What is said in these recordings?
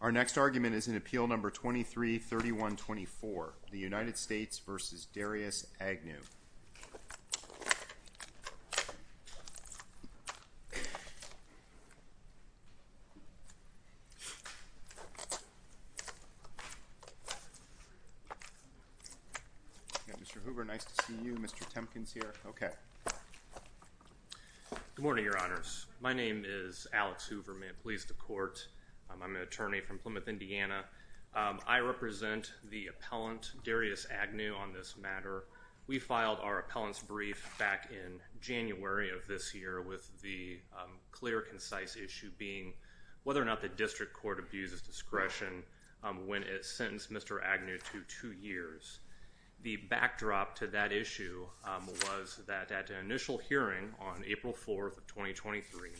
Our next argument is in Appeal No. 23-3124, the United States v. Darrius Agnew. Mr. Hoover, nice to see you. Mr. Temkin is here. Okay. Good morning, Your Honors. My name is Alex Hoover. May it please the Court. I'm an attorney from Plymouth, Indiana. I represent the appellant, Darrius Agnew, on this matter. We filed our appellant's brief back in January of this year with the clear, concise issue being whether or not the district court abuses discretion when it sentenced Mr. Agnew to two years. The backdrop to that issue was that at an initial hearing on April 4th of 2023,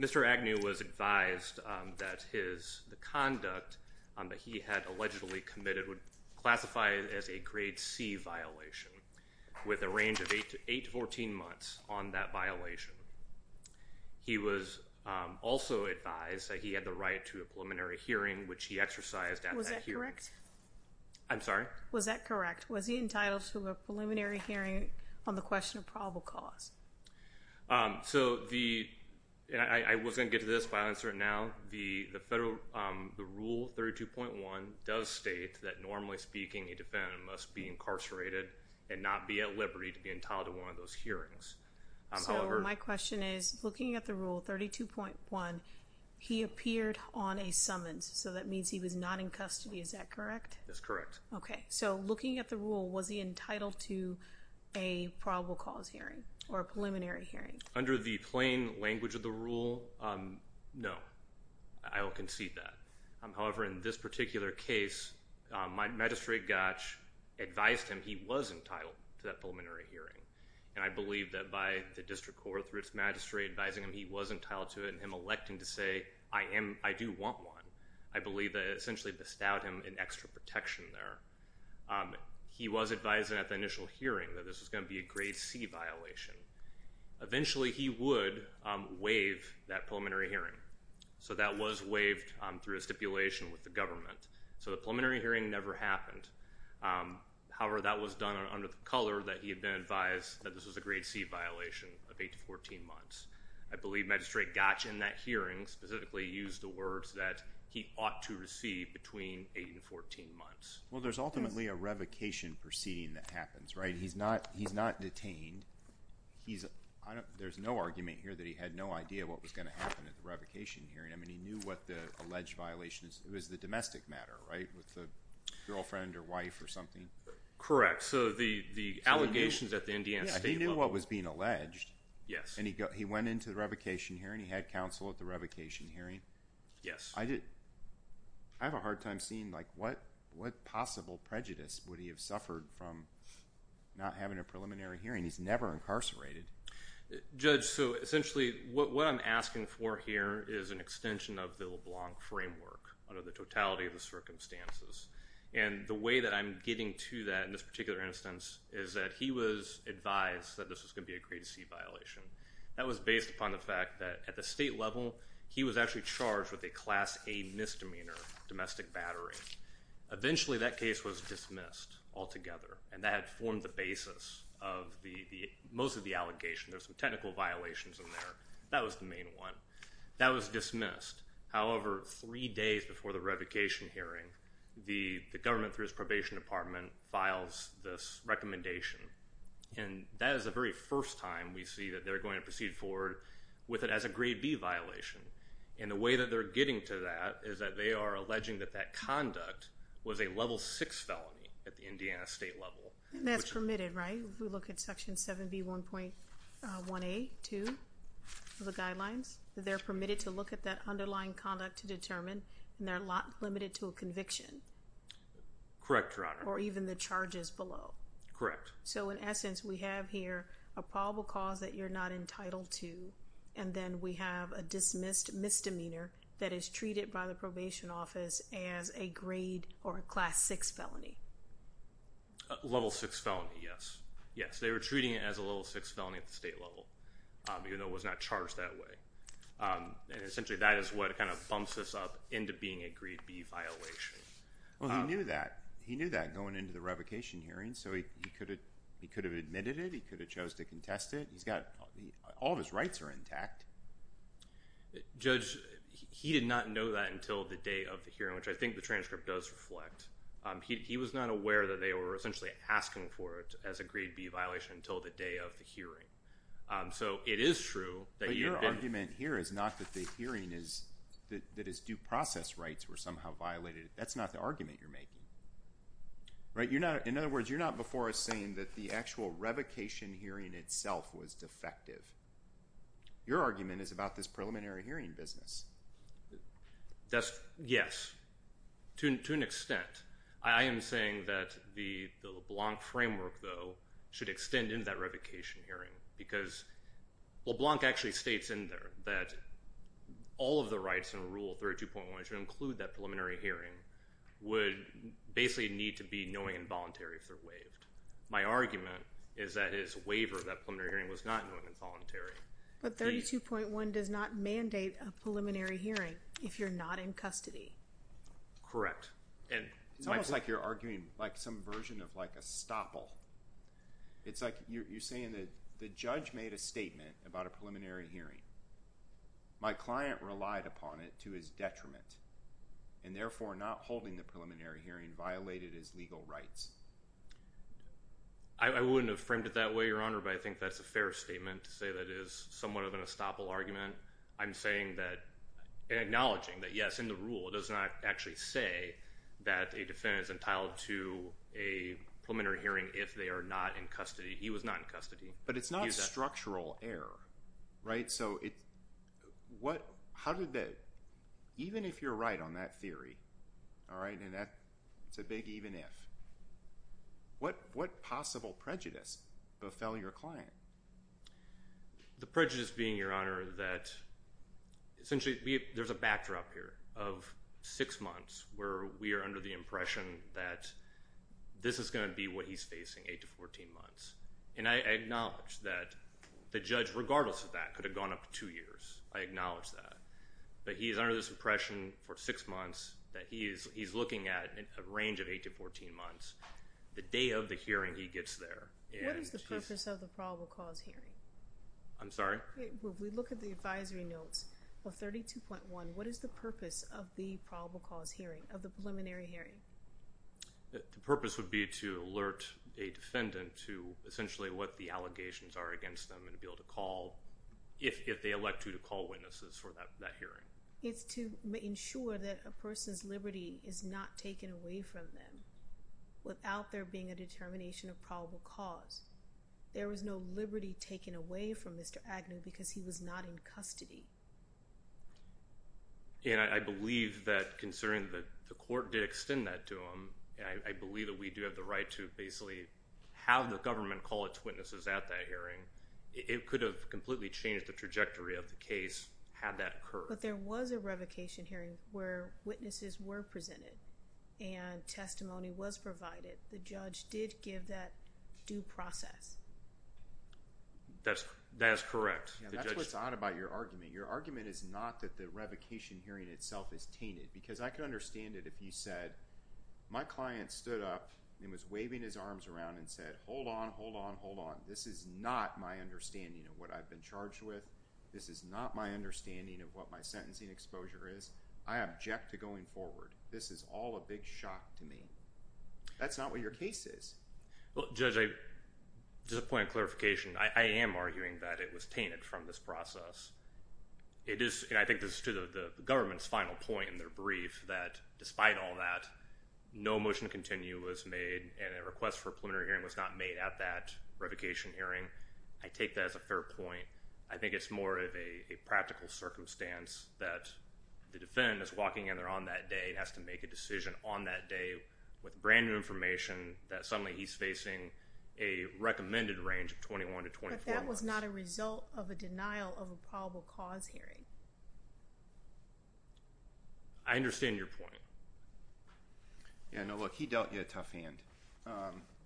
Mr. Agnew was advised that the conduct that he had allegedly committed would classify as a Grade C violation with a range of 8 to 14 months on that violation. He was also advised that he had the right to a preliminary hearing, which he exercised at that hearing. I'm sorry? Was that correct? Was he entitled to a preliminary hearing on the question of probable cause? I was going to get to this, but I'll answer it now. The Federal Rule 32.1 does state that normally speaking, a defendant must be incarcerated and not be at liberty to be entitled to one of those hearings. So my question is, looking at the Rule 32.1, he appeared on a summons, so that means he was not in custody. Is that correct? That's correct. Okay. So looking at the Rule, was he entitled to a probable cause hearing or a preliminary hearing? Under the plain language of the Rule, no. I will concede that. However, in this particular case, my magistrate, Gotch, advised him he was entitled to that preliminary hearing. And I believe that by the district court through its magistrate advising him he was entitled to it and him electing to say, I do want one, I believe that it essentially bestowed him an extra protection there. He was advising at the initial hearing that this was going to be a Grade C violation. Eventually, he would waive that preliminary hearing. So that was waived through a stipulation with the government. So the preliminary hearing never happened. However, that was done under the color that he had been advised that this was a Grade C violation of 8 to 14 months. I believe Magistrate Gotch in that hearing specifically used the words that he ought to receive between 8 and 14 months. Well, there's ultimately a revocation proceeding that happens, right? He's not detained. There's no argument here that he had no idea what was going to happen at the revocation hearing. I mean, he knew what the alleged violation was. It was the domestic matter, right, with the girlfriend or wife or something. Correct. So the allegations at the Indiana State level. Yeah, he knew what was being alleged. Yes. And he went into the revocation hearing. He had counsel at the revocation hearing. Yes. I have a hard time seeing, like, what possible prejudice would he have suffered from not having a preliminary hearing? He's never incarcerated. Judge, so essentially what I'm asking for here is an extension of the LeBlanc framework under the totality of the circumstances. And the way that I'm getting to that in this particular instance is that he was advised that this was going to be a grade C violation. That was based upon the fact that at the state level, he was actually charged with a Class A misdemeanor, domestic battery. Eventually, that case was dismissed altogether, and that had formed the basis of most of the allegations. There were some technical violations in there. That was the main one. That was dismissed. However, three days before the revocation hearing, the government, through its probation department, files this recommendation. And that is the very first time we see that they're going to proceed forward with it as a grade B violation. And the way that they're getting to that is that they are alleging that that conduct was a Level VI felony at the Indiana State level. And that's permitted, right? If we look at Section 7B1.1A.2 of the guidelines, they're permitted to look at that underlying conduct to determine, and they're not limited to a conviction. Correct, Your Honor. Or even the charges below. Correct. So in essence, we have here a probable cause that you're not entitled to, and then we have a dismissed misdemeanor that is treated by the probation office as a grade or a Class VI felony. Level VI felony, yes. Yes, they were treating it as a Level VI felony at the state level, even though it was not charged that way. And essentially, that is what kind of bumps this up into being a grade B violation. Well, he knew that. He knew that going into the revocation hearing, so he could have admitted it. He could have chose to contest it. He's got all of his rights are intact. Judge, he did not know that until the day of the hearing, which I think the transcript does reflect. He was not aware that they were essentially asking for it as a grade B violation until the day of the hearing. So it is true that you've been. But your argument here is not that the hearing is, that his due process rights were somehow violated. That's not the argument you're making, right? In other words, you're not before us saying that the actual revocation hearing itself was defective. Your argument is about this preliminary hearing business. Yes, to an extent. I am saying that the LeBlanc framework, though, should extend into that revocation hearing, because LeBlanc actually states in there that all of the rights in Rule 32.1 should include that preliminary hearing would basically need to be knowing and voluntary if they're waived. My argument is that his waiver of that preliminary hearing was not knowing and voluntary. But 32.1 does not mandate a preliminary hearing if you're not in custody. Correct. And it's almost like you're arguing like some version of like a stopple. It's like you're saying that the judge made a statement about a preliminary hearing. My client relied upon it to his detriment and therefore not holding the preliminary hearing violated his legal rights. I wouldn't have framed it that way, Your Honor, but I think that's a fair statement to say that is somewhat of an estoppel argument. I'm saying that and acknowledging that, yes, in the rule it does not actually say that a defendant is entitled to a preliminary hearing if they are not in custody. He was not in custody. But it's not a structural error, right? Even if you're right on that theory, all right, and that's a big even if, what possible prejudice befell your client? The prejudice being, Your Honor, that essentially there's a backdrop here of six months where we are under the impression that this is going to be what he's facing, 8 to 14 months. And I acknowledge that the judge, regardless of that, could have gone up two years. I acknowledge that. But he's under this impression for six months that he's looking at a range of 8 to 14 months. The day of the hearing, he gets there. What is the purpose of the probable cause hearing? I'm sorry? If we look at the advisory notes for 32.1, what is the purpose of the probable cause hearing, of the preliminary hearing? The purpose would be to alert a defendant to essentially what the allegations are against them and be able to call, if they elect you to call witnesses for that hearing. It's to ensure that a person's liberty is not taken away from them without there being a determination of probable cause. There was no liberty taken away from Mr. Agnew because he was not in custody. And I believe that, considering that the court did extend that to him, I believe that we do have the right to basically have the government call its witnesses at that hearing. It could have completely changed the trajectory of the case had that occurred. But there was a revocation hearing where witnesses were presented and testimony was provided. The judge did give that due process. That is correct. That's what's odd about your argument. Your argument is not that the revocation hearing itself is tainted. Because I could understand it if you said, my client stood up and was waving his arms around and said, hold on, hold on, hold on. This is not my understanding of what I've been charged with. This is not my understanding of what my sentencing exposure is. I object to going forward. This is all a big shock to me. That's not what your case is. Well, Judge, just a point of clarification. I am arguing that it was tainted from this process. It is, and I think this is to the government's final point in their brief, that despite all that, no motion to continue was made and a request for a preliminary hearing was not made at that revocation hearing. I take that as a fair point. I think it's more of a practical circumstance that the defendant is walking in there on that day and has to make a decision on that day with brand new information that suddenly he's facing a recommended range of 21 to 24 months. But that was not a result of a denial of a probable cause hearing. I understand your point. Yeah, no, look, he dealt you a tough hand.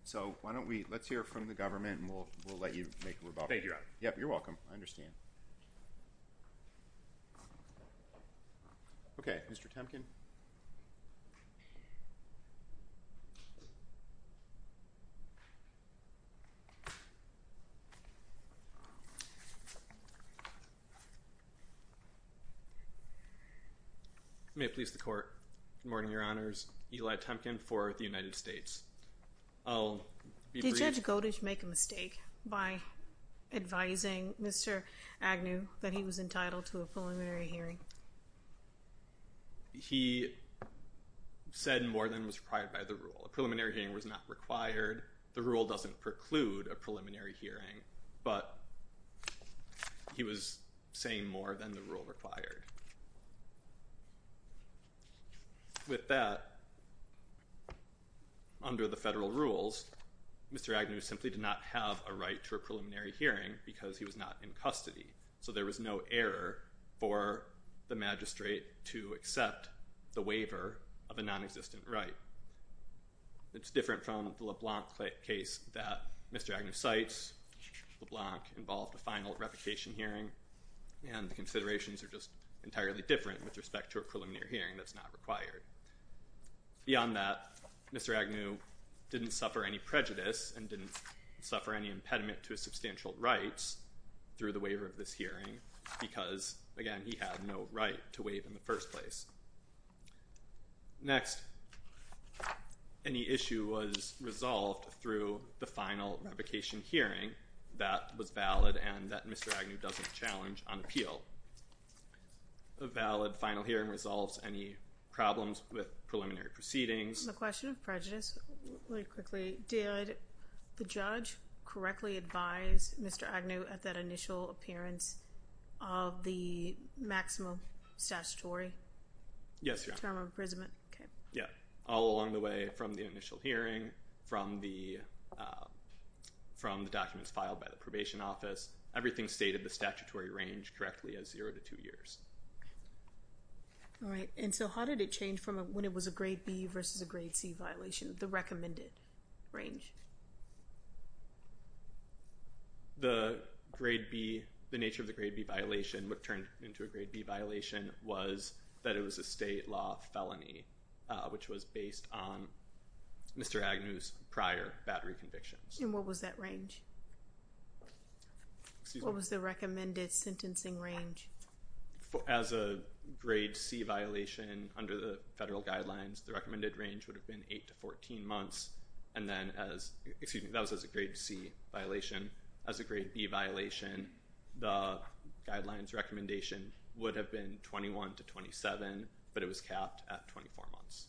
So why don't we, let's hear it from the government and we'll let you make a revocation. Thank you. Yep, you're welcome. I understand. Okay, Mr. Temkin. May it please the court. Good morning, your honors. Eli Temkin for the United States. I'll be brief. Did Judge Godish make a mistake by advising Mr. Agnew that he was entitled to a preliminary hearing? He said more than was required by the rule. A preliminary hearing was not required. The rule doesn't preclude a preliminary hearing, but he was saying more than the rule required. With that, under the federal rules, Mr. Agnew simply did not have a right to a preliminary hearing because he was not in custody. So there was no error for the magistrate to accept the waiver of a nonexistent right. It's different from the LeBlanc case that Mr. Agnew cites. LeBlanc involved a final revocation hearing, and the considerations are just entirely different with respect to a preliminary hearing that's not required. Beyond that, Mr. Agnew didn't suffer any prejudice and didn't suffer any impediment to his substantial rights through the waiver of this hearing because, again, he had no right to wait in the first place. Next, any issue was resolved through the final revocation hearing that was valid and that Mr. Agnew doesn't challenge on appeal. A valid final hearing resolves any problems with preliminary proceedings. On the question of prejudice, really quickly, did the judge correctly advise Mr. Agnew at that initial appearance of the maximum statutory term of imprisonment? Yeah. All along the way from the initial hearing, from the documents filed by the probation office, everything stated the statutory range correctly as zero to two years. All right. And so how did it change from when it was a grade B versus a grade C violation, the recommended range? The grade B, the nature of the grade B violation, what turned into a grade B violation was that it was a state law felony, which was based on Mr. Agnew's prior battery convictions. And what was that range? What was the recommended sentencing range? As a grade C violation under the federal guidelines, the recommended range would have been eight to 14 months. And then as – excuse me, that was as a grade C violation. As a grade B violation, the guidelines recommendation would have been 21 to 27, but it was capped at 24 months.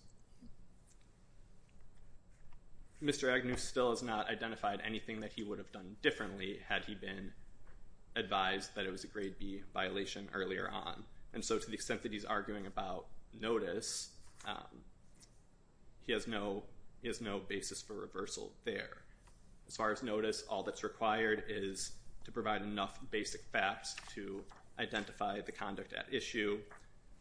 Mr. Agnew still has not identified anything that he would have done differently had he been advised that it was a grade B violation earlier on. And so to the extent that he's arguing about notice, he has no basis for reversal there. As far as notice, all that's required is to provide enough basic facts to identify the conduct at issue.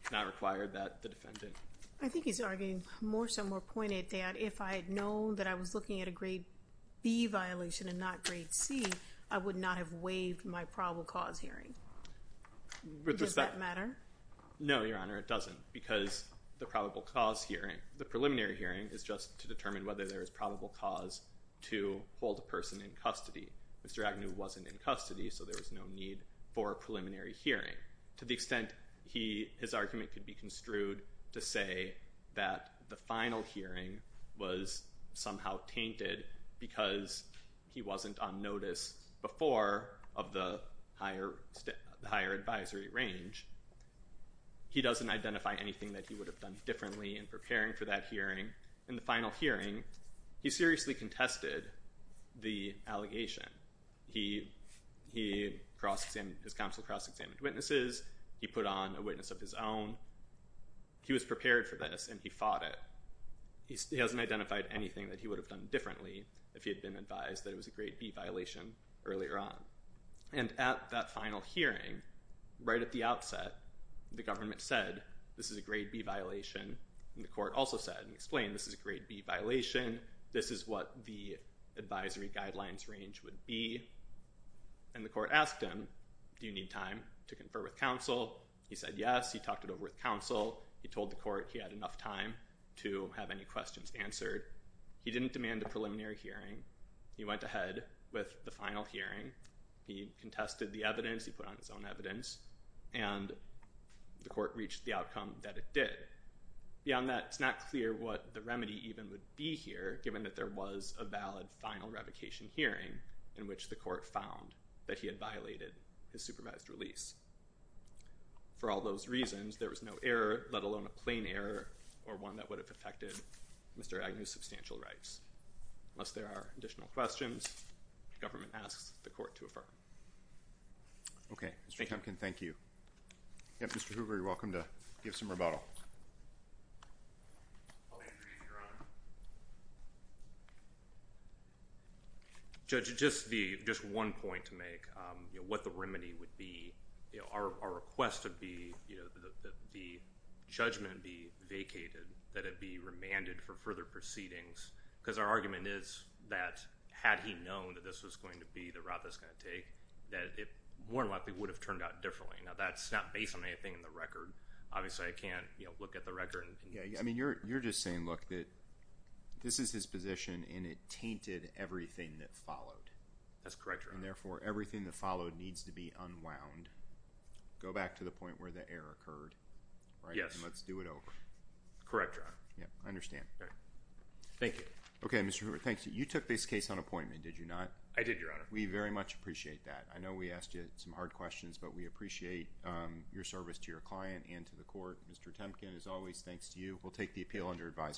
It's not required that the defendant – I think he's arguing more so, more pointed, that if I had known that I was looking at a grade B violation and not grade C, I would not have waived my probable cause hearing. Does that matter? No, Your Honor, it doesn't. Because the probable cause hearing, the preliminary hearing, is just to determine whether there is probable cause to hold a person in custody. Mr. Agnew wasn't in custody, so there was no need for a preliminary hearing. To the extent his argument could be construed to say that the final hearing was somehow tainted because he wasn't on notice before of the higher advisory range, he doesn't identify anything that he would have done differently in preparing for that hearing. In the final hearing, he seriously contested the allegation. He – his counsel cross-examined witnesses. He put on a witness of his own. He was prepared for this, and he fought it. He hasn't identified anything that he would have done differently if he had been advised that it was a grade B violation earlier on. And at that final hearing, right at the outset, the government said, this is a grade B violation, and the court also sat and explained, this is a grade B violation. This is what the advisory guidelines range would be. And the court asked him, do you need time to confer with counsel? He said yes. He talked it over with counsel. He told the court he had enough time to have any questions answered. He didn't demand a preliminary hearing. He went ahead with the final hearing. He contested the evidence. He put on his own evidence, and the court reached the outcome that it did. Beyond that, it's not clear what the remedy even would be here, given that there was a valid final revocation hearing in which the court found that he had violated his supervised release. For all those reasons, there was no error, let alone a plain error or one that would have affected Mr. Agnew's substantial rights. Unless there are additional questions, the government asks the court to affirm. OK, Mr. Kempkin, thank you. Mr. Hoover, you're welcome to give some rebuttal. I'll introduce your Honor. Judge, just one point to make, what the remedy would be. Our request would be that the judgment be vacated, that it be remanded for further proceedings. Because our argument is that, had he known that this was going to be the route that it's going to take, that it more than likely would have turned out differently. Now, that's not based on anything in the record. Obviously, I can't look at the record. I mean, you're just saying, look, that this is his position, and it tainted everything that followed. That's correct, Your Honor. And therefore, everything that followed needs to be unwound. Go back to the point where the error occurred. Yes. And let's do it over. Correct, Your Honor. I understand. Thank you. Okay, Mr. Hoover, thank you. You took this case on appointment, did you not? I did, Your Honor. We very much appreciate that. I know we asked you some hard questions, but we appreciate your service to your client and to the court. Mr. Kempkin, as always, thanks to you. We'll take the appeal under advisement.